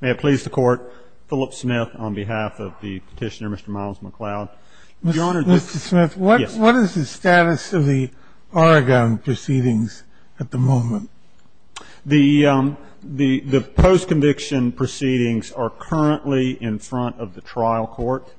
May it please the Court, Philip Smith on behalf of the Petitioner, Mr. Miles McLeod. Mr. Smith, what is the status of the Oregon proceedings at the moment? The post-conviction proceedings are currently in front of the trial court.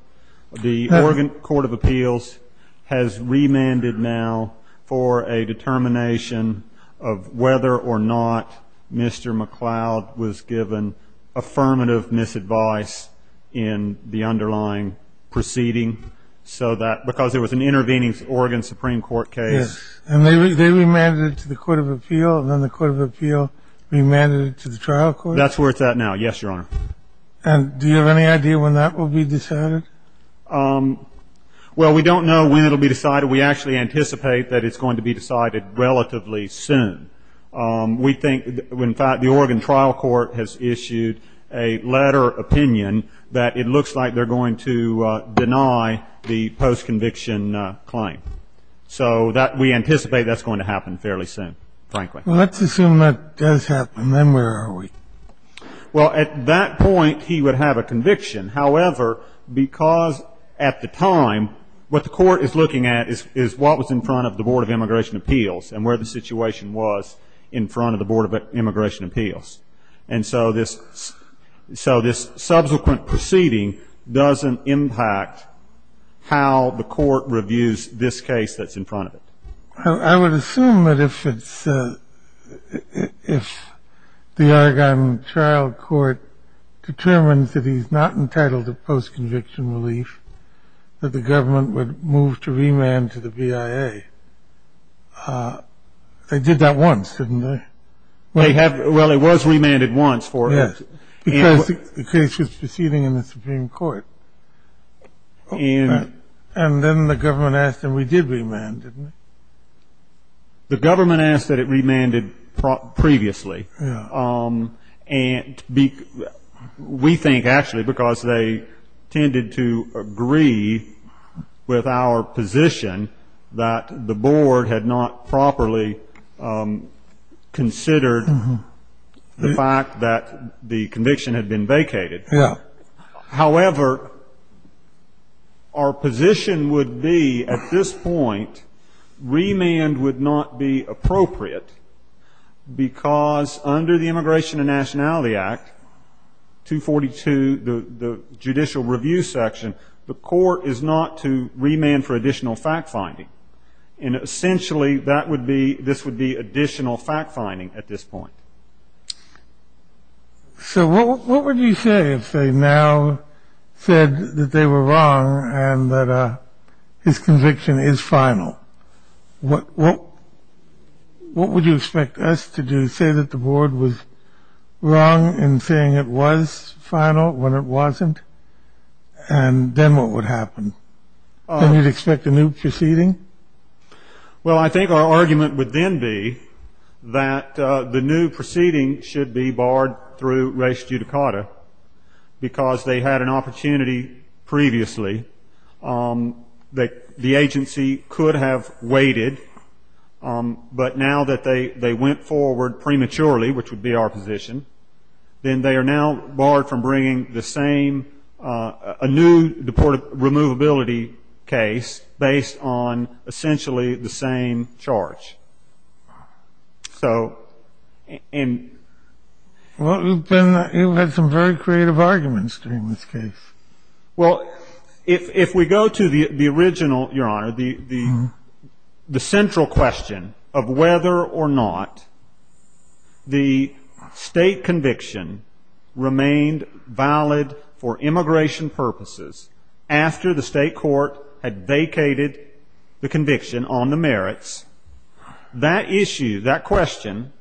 The Oregon Court of Appeals has remanded now for a determination of whether or not Mr. McLeod was given affirmative misadvice in the underlying proceeding because there was an intervening Oregon Supreme Court case. And they remanded it to the Court of Appeal and then the Court of Appeal remanded it to the trial court? That's where it's at now, yes, Your Honor. And do you have any idea when that will be decided? Well, we don't know when it will be decided. We actually anticipate that it's going to be decided relatively soon. We think, in fact, the Oregon trial court has issued a letter of opinion that it looks like they're going to deny the post-conviction claim. So we anticipate that's going to happen fairly soon, frankly. Let's assume that does happen. Then where are we? Well, at that point, he would have a conviction. However, because at the time what the court is looking at is what was in front of the Board of Immigration Appeals and where the situation was in front of the Board of Immigration Appeals. And so this subsequent proceeding doesn't impact how the court reviews this case that's in front of it. I would assume that if the Oregon trial court determines that he's not entitled to post-conviction relief, that the government would move to remand to the BIA. They did that once, didn't they? Well, it was remanded once for us. Yes, because the case was proceeding in the Supreme Court. And then the government asked and we did remand, didn't we? The government asked that it remanded previously. Yes. And we think actually because they tended to agree with our position that the board had not properly considered the fact that the conviction had been vacated. Yes. However, our position would be at this point remand would not be appropriate because under the Immigration and Nationality Act 242, the judicial review section, the court is not to remand for additional fact-finding. And essentially that would be this would be additional fact-finding at this point. So what would you say if they now said that they were wrong and that his conviction is final? What would you expect us to do? Say that the board was wrong in saying it was final when it wasn't? And then what would happen? Then you'd expect a new proceeding? Well, I think our argument would then be that the new proceeding should be barred through res judicata, because they had an opportunity previously that the agency could have waited. But now that they went forward prematurely, which would be our position, then they are now barred from bringing the same a new deportable removability case based on essentially the same charge. So and. Well, then you had some very creative arguments during this case. Well, if we go to the original, Your Honor, the central question of whether or not the state conviction remained valid for immigration purposes after the state court had vacated the conviction on the merits, that issue, that question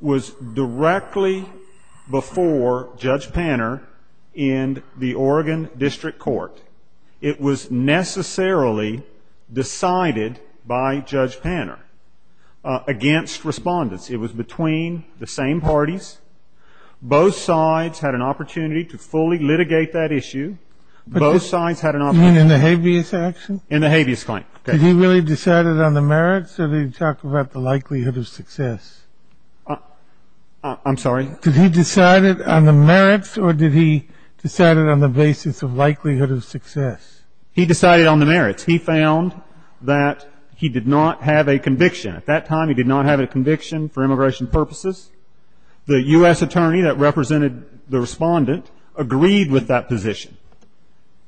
was directly before Judge Panner in the Oregon District Court. It was necessarily decided by Judge Panner against Respondents. It was between the same parties. Both sides had an opportunity to fully litigate that issue. Both sides had an opportunity. You mean in the habeas action? In the habeas claim. Okay. Did he really decide it on the merits, or did he talk about the likelihood of success? I'm sorry? Did he decide it on the merits, or did he decide it on the basis of likelihood of success? He decided on the merits. He found that he did not have a conviction. At that time, he did not have a conviction for immigration purposes. The U.S. attorney that represented the Respondent agreed with that position.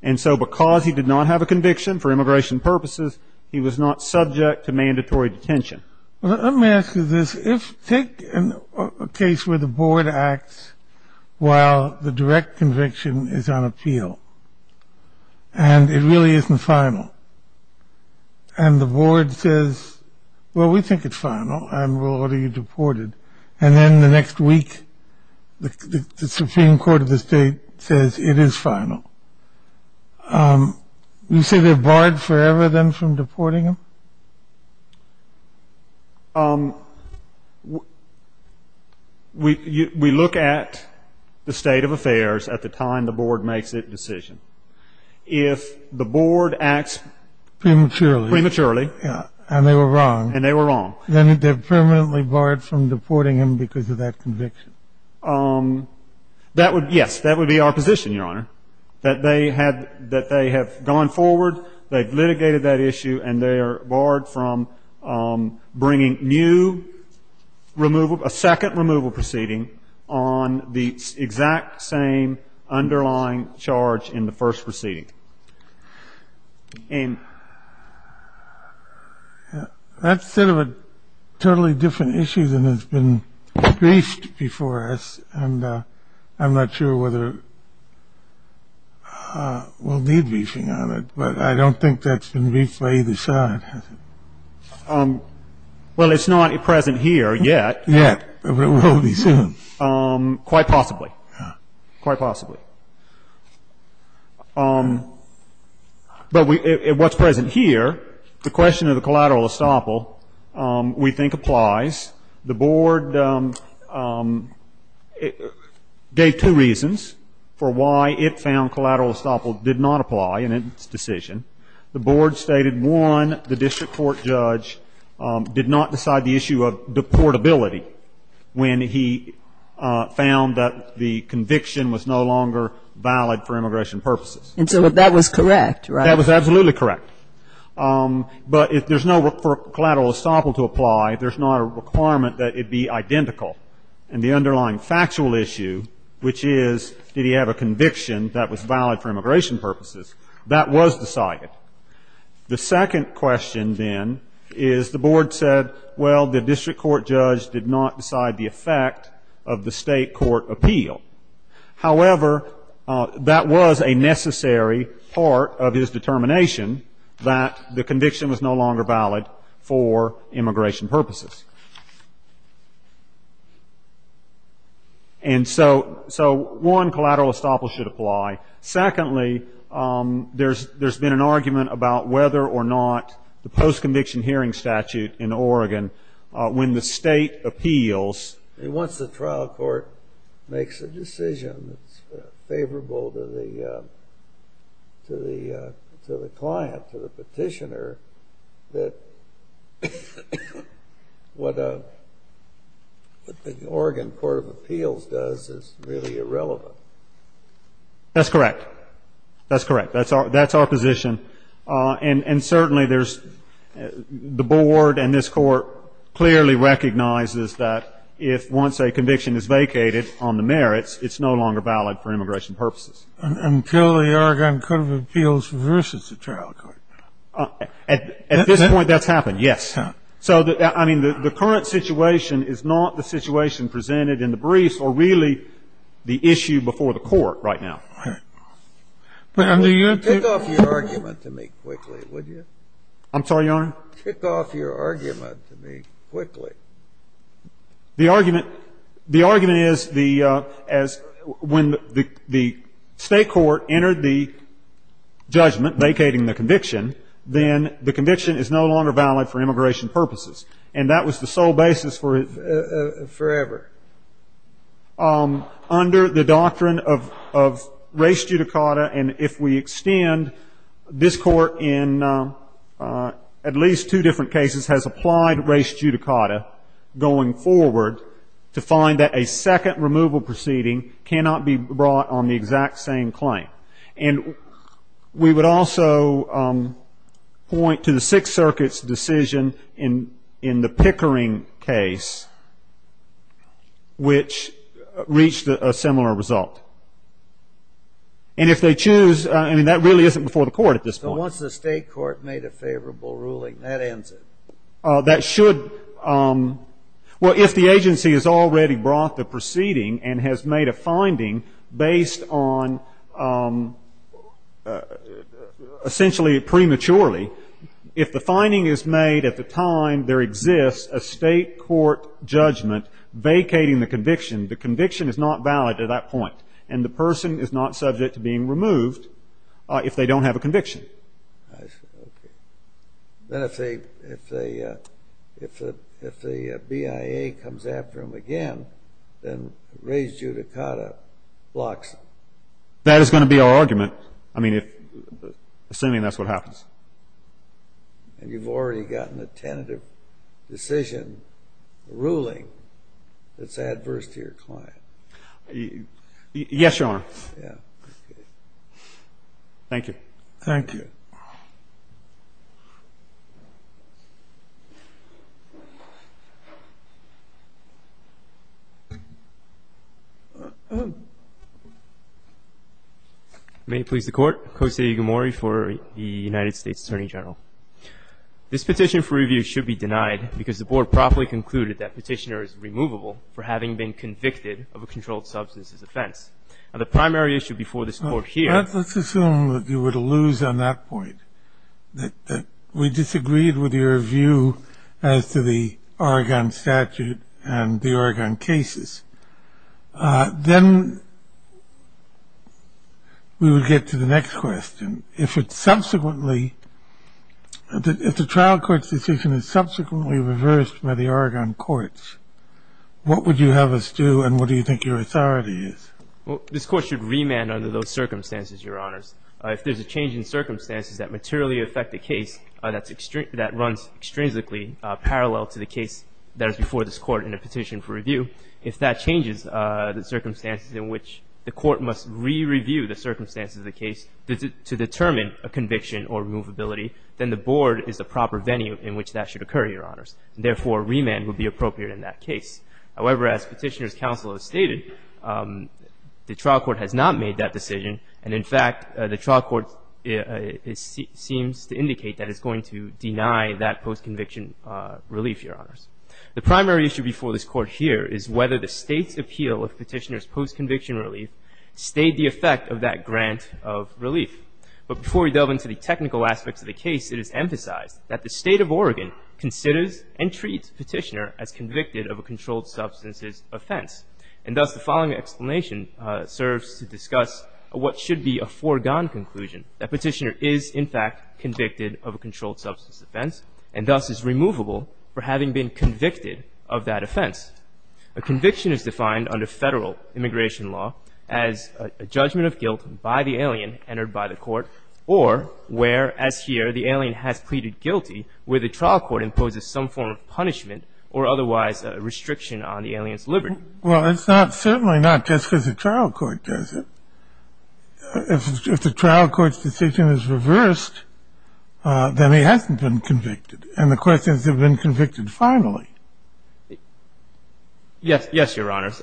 And so because he did not have a conviction for immigration purposes, he was not subject to mandatory detention. Let me ask you this. Take a case where the board acts while the direct conviction is on appeal, and it really isn't final. And the board says, well, we think it's final, and we'll order you deported. And then the next week, the Supreme Court of the state says it is final. You say they're barred forever then from deporting them? We look at the state of affairs at the time the board makes its decision. If the board acts prematurely, and they were wrong, then they're permanently barred from deporting them because of that conviction. That would be our position, Your Honor, that they have gone forward, they've litigated that issue, and they are barred from bringing new removal, a second removal proceeding, on the exact same underlying charge in the first proceeding. That's sort of a totally different issue than has been briefed before us, and I'm not sure whether we'll need briefing on it, but I don't think that's been briefed by either side, has it? Well, it's not present here yet. Yet, but it will be soon. Quite possibly, quite possibly. But what's present here, the question of the collateral estoppel, we think applies. The board gave two reasons for why it found collateral estoppel did not apply in its decision. The board stated, one, the district court judge did not decide the issue of deportability when he found that the conviction was no longer valid for immigration purposes. And so that was correct, right? That was absolutely correct. But if there's no collateral estoppel to apply, there's not a requirement that it be identical. And the underlying factual issue, which is, did he have a conviction that was valid for immigration purposes, that was decided. The second question, then, is the board said, well, the district court judge did not decide the effect of the state court appeal. However, that was a necessary part of his determination, that the conviction was no longer valid for immigration purposes. And so one, collateral estoppel should apply. Secondly, there's been an argument about whether or not the post-conviction hearing statute in Oregon, when the state appeals. Once the trial court makes a decision that's favorable to the client, to the petitioner, that what the Oregon Court of Appeals does is really irrelevant. That's correct. That's correct. That's our position. And certainly there's the board and this Court clearly recognizes that if once a conviction is vacated on the merits, it's no longer valid for immigration purposes. Until the Oregon Court of Appeals versus the trial court. At this point, that's happened, yes. So, I mean, the current situation is not the situation presented in the brief, or really the issue before the court right now. All right. Take off your argument to me quickly, would you? I'm sorry, Your Honor? Take off your argument to me quickly. The argument is the as when the state court entered the judgment vacating the conviction, then the conviction is no longer valid for immigration purposes. And that was the sole basis for it. Forever. Under the doctrine of race judicata, and if we extend this court in at least two different cases, has applied race judicata going forward to find that a second removal proceeding cannot be brought on the exact same claim. And we would also point to the Sixth Circuit's decision in the Pickering case, which reached a similar result. And if they choose, I mean, that really isn't before the court at this point. So once the state court made a favorable ruling, that ends it? That should. Well, if the agency has already brought the proceeding and has made a finding based on essentially prematurely, if the finding is made at the time there exists a state court judgment vacating the conviction, the conviction is not valid at that point, and the person is not subject to being removed if they don't have a conviction. I see. Okay. Then if the BIA comes after them again, then race judicata blocks them. That is going to be our argument. I mean, assuming that's what happens. And you've already gotten a tentative decision ruling that's adverse to your client. Yes, Your Honor. Okay. Thank you. Thank you. May it please the Court. Kosei Igumori for the United States Attorney General. This petition for review should be denied because the board properly concluded that petitioner is removable for having been convicted of a controlled substances offense. Now, the primary issue before this Court here. Let's assume that you were to lose on that point, that we disagreed with your view as to the Oregon statute and the Oregon cases. Then we would get to the next question. If it subsequently, if the trial court's decision is subsequently reversed by the Oregon courts, what would you have us do and what do you think your authority is? Well, this Court should remand under those circumstances, Your Honors. If there's a change in circumstances that materially affect the case, that runs extrinsically parallel to the case that is before this Court in a petition for review, if that changes the circumstances in which the Court must re-review the circumstances of the case to determine a conviction or removability, then the board is the proper venue in which that should occur, Your Honors. Therefore, remand would be appropriate in that case. However, as Petitioner's counsel has stated, the trial court has not made that decision. And in fact, the trial court seems to indicate that it's going to deny that post-conviction relief, Your Honors. The primary issue before this Court here is whether the State's appeal of Petitioner's post-conviction relief stayed the effect of that grant of relief. But before we delve into the technical aspects of the case, it is emphasized that the State of Oregon considers and treats Petitioner as convicted of a controlled substances offense. And thus, the following explanation serves to discuss what should be a foregone conclusion, that Petitioner is, in fact, convicted of a controlled substances offense and thus is removable for having been convicted of that offense. A conviction is defined under Federal immigration law as a judgment of guilt by the alien entered by the Court or where, as here, the alien has pleaded guilty, where the trial court imposes some form of punishment or otherwise a restriction on the alien's liberty. Well, it's certainly not just because the trial court does it. If the trial court's decision is reversed, then he hasn't been convicted. And the question is, has he been convicted finally? Yes, Your Honors.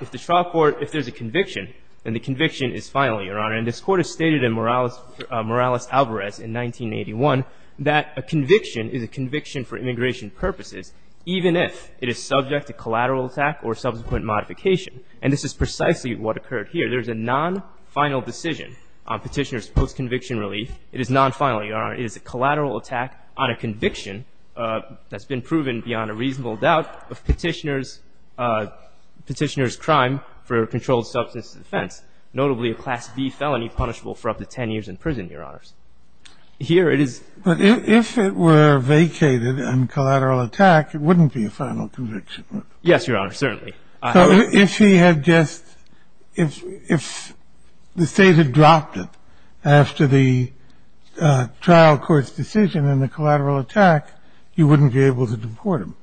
If the trial court, if there's a conviction, then the conviction is finally, Your Honor. And this Court has stated in Morales-Alvarez in 1981 that a conviction is a conviction for immigration purposes, even if it is subject to collateral attack or subsequent modification. And this is precisely what occurred here. There's a non-final decision on Petitioner's post-conviction relief. It is non-final, Your Honor. It is a collateral attack on a conviction that's been proven beyond a reasonable doubt of Petitioner's crime for a controlled substances offense, notably a Class B felony punishable for up to 10 years in prison, Your Honors. Here it is. But if it were vacated and collateral attack, it wouldn't be a final conviction. Yes, Your Honor. Certainly. So if he had just, if the State had dropped it after the trial court's decision and the collateral attack, you wouldn't be able to deport him?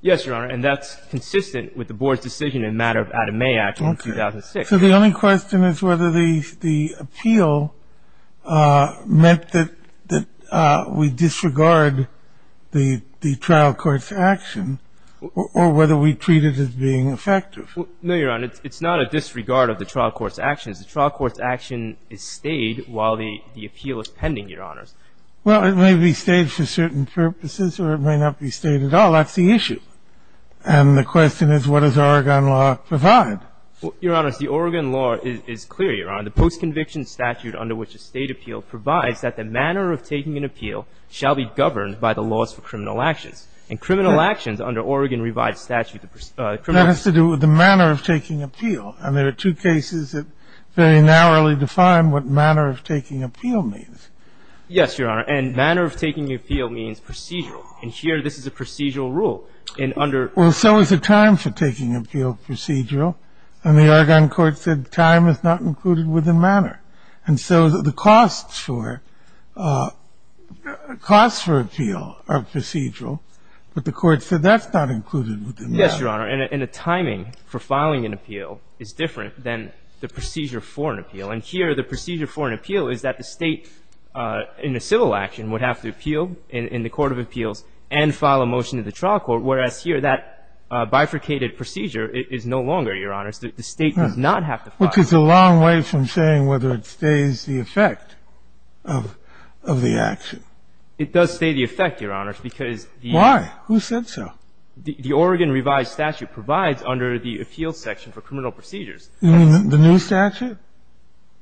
Yes, Your Honor. And that's consistent with the Board's decision in matter of Adam May Act of 2006. So the only question is whether the appeal meant that we disregard the trial court's action or whether we treat it as being effective. No, Your Honor. It's not a disregard of the trial court's actions. The trial court's action is stayed while the appeal is pending, Your Honors. Well, it may be stayed for certain purposes or it may not be stayed at all. That's the issue. And the question is what does Oregon law provide? Your Honors, the Oregon law is clear, Your Honor. The post-conviction statute under which a State appeal provides that the manner of taking an appeal shall be governed by the laws for criminal actions. And criminal actions under Oregon revised statute, the criminal – That has to do with the manner of taking appeal. And there are two cases that very narrowly define what manner of taking appeal means. Yes, Your Honor. And manner of taking appeal means procedural. And here this is a procedural rule. Well, so is the time for taking appeal procedural. And the Oregon court said time is not included within manner. And so the costs for – costs for appeal are procedural. But the court said that's not included within manner. Yes, Your Honor. And the timing for filing an appeal is different than the procedure for an appeal. And here the procedure for an appeal is that the State in a civil action would have to appeal in the court of appeals and file a motion to the trial court, whereas here that bifurcated procedure is no longer, Your Honors. The State does not have to file a motion. Which is a long way from saying whether it stays the effect of the action. It does stay the effect, Your Honors, because the – Why? Who said so? The Oregon revised statute provides under the appeals section for criminal procedures. You mean the new statute?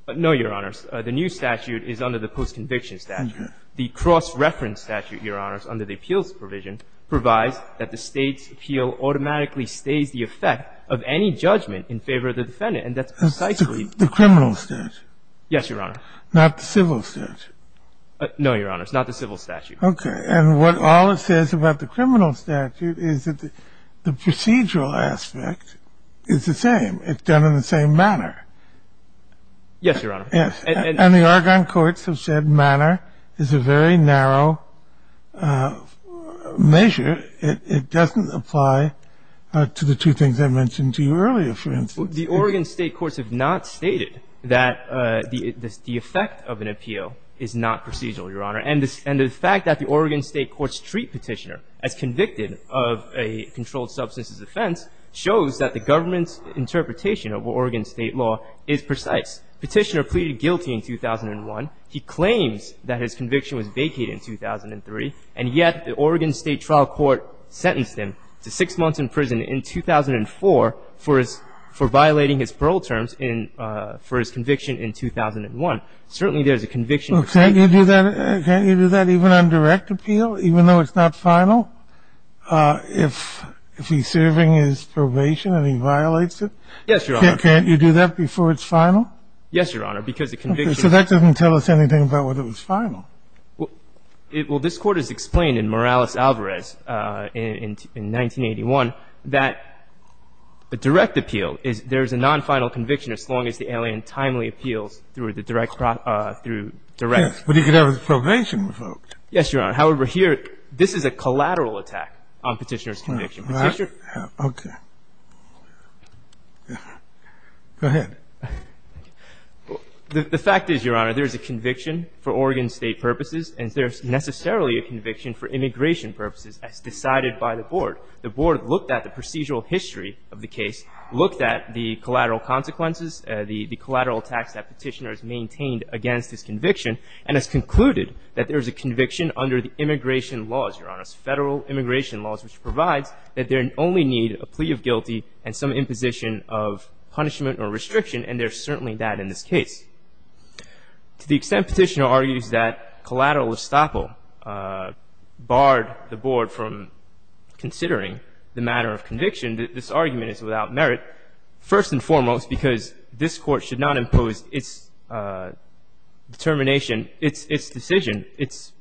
No, Your Honors. The new statute is under the post-conviction statute. Okay. The cross-reference statute, Your Honors, under the appeals provision provides that the State's appeal automatically stays the effect of any judgment in favor of the defendant. And that's precisely – The criminal statute. Yes, Your Honor. Not the civil statute. No, Your Honors. Not the civil statute. Okay. And what all it says about the criminal statute is that the procedural aspect is the same. It's done in the same manner. Yes, Your Honor. Yes. And the Oregon courts have said manner is a very narrow measure. It doesn't apply to the two things I mentioned to you earlier, for instance. The Oregon State courts have not stated that the effect of an appeal is not procedural, Your Honor. And the fact that the Oregon State courts treat Petitioner as convicted of a controlled substances offense shows that the government's interpretation of Oregon State law is precise. Petitioner pleaded guilty in 2001. He claims that his conviction was vacated in 2003, and yet the Oregon State trial court sentenced him to six months in prison in 2004 for his – for violating his parole terms in – for his conviction in 2001. Certainly there's a conviction. Well, can't you do that – can't you do that even on direct appeal, even though it's not final, if he's serving his probation and he violates it? Yes, Your Honor. Can't you do that before it's final? Yes, Your Honor, because the conviction – Okay. So that doesn't tell us anything about whether it was final. Well, it – well, this Court has explained in Morales-Alvarez in – in 1981 that a direct appeal is – there's a non-final conviction as long as the alien timely appeals through the direct – through direct – Yes, but he could have his probation revoked. Yes, Your Honor. However, here, this is a collateral attack on Petitioner's conviction. Petitioner – Okay. Go ahead. The fact is, Your Honor, there's a conviction for Oregon State purposes, and there's necessarily a conviction for immigration purposes as decided by the Board. The Board looked at the procedural history of the case, looked at the collateral consequences, the collateral attacks that Petitioner has maintained against his Federal immigration laws, which provides that there only need a plea of guilty and some imposition of punishment or restriction, and there's certainly that in this case. To the extent Petitioner argues that collateral estoppel barred the Board from considering the matter of conviction, this argument is without merit, first and foremost because this Court should not impose its determination, its – its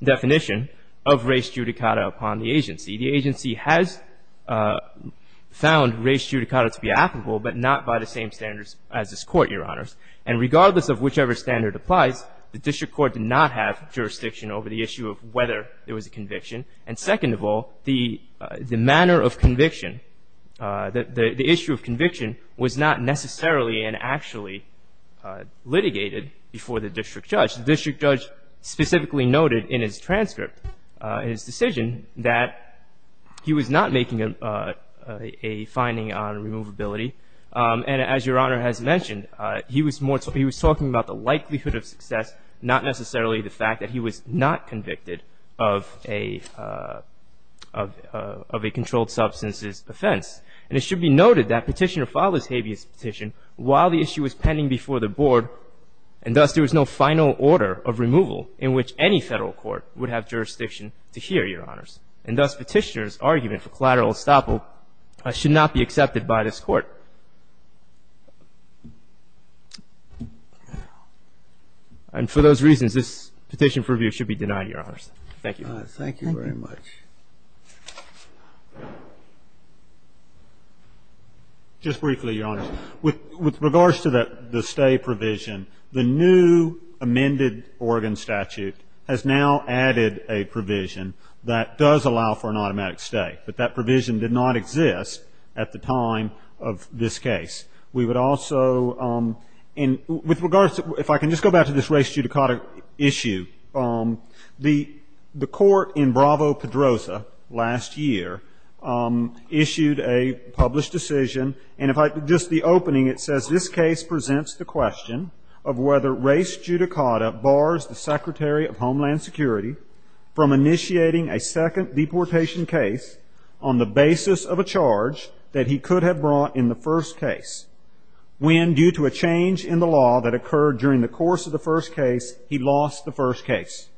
determination of res judicata upon the agency. The agency has found res judicata to be applicable, but not by the same standards as this Court, Your Honors. And regardless of whichever standard applies, the district court did not have jurisdiction over the issue of whether there was a conviction. And second of all, the – the manner of conviction, the – the issue of conviction was not necessarily and actually litigated before the district judge. The district judge specifically noted in his transcript, in his decision, that he was not making a – a finding on removability. And as Your Honor has mentioned, he was more – he was talking about the likelihood of success, not necessarily the fact that he was not convicted of a – of a controlled substance's offense. And it should be noted that Petitioner filed this habeas petition while the issue was pending before the Board, and thus there was no final order of removal in which any Federal court would have jurisdiction to hear, Your Honors. And thus Petitioner's argument for collateral estoppel should not be accepted by this Court. And for those reasons, this petition for review should be denied, Your Honors. Thank you. Thank you very much. Just briefly, Your Honors. With – with regards to the stay provision, the new amended Oregon statute has now added a provision that does allow for an automatic stay. But that provision did not exist at the time of this case. We would also – and with regards – if I can just go back to this race judicata issue, the – the court in Bravo-Pedroza last year issued a published decision. And if I – just the opening, it says, This case presents the question of whether race judicata bars the Secretary of Homeland Security from initiating a second deportation case on the basis of a charge that he could have brought in the first case, when, due to a change in the law that occurred during the course of the first case, he lost the first case.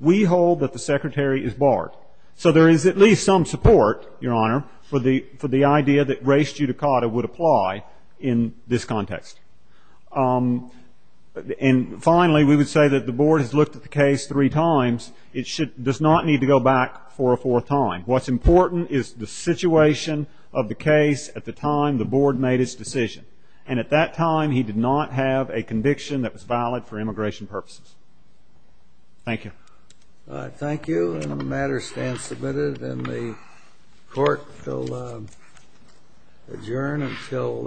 We hold that the Secretary is barred. So there is at least some support, Your Honor, for the – for the idea that race judicata would apply in this context. And finally, we would say that the Board has looked at the case three times. It should – does not need to go back for a fourth time. What's important is the situation of the case at the time the Board made its decision. And at that time, he did not have a conviction that was valid for immigration purposes. Thank you. Thank you. And the matter stands submitted, and the court will adjourn until –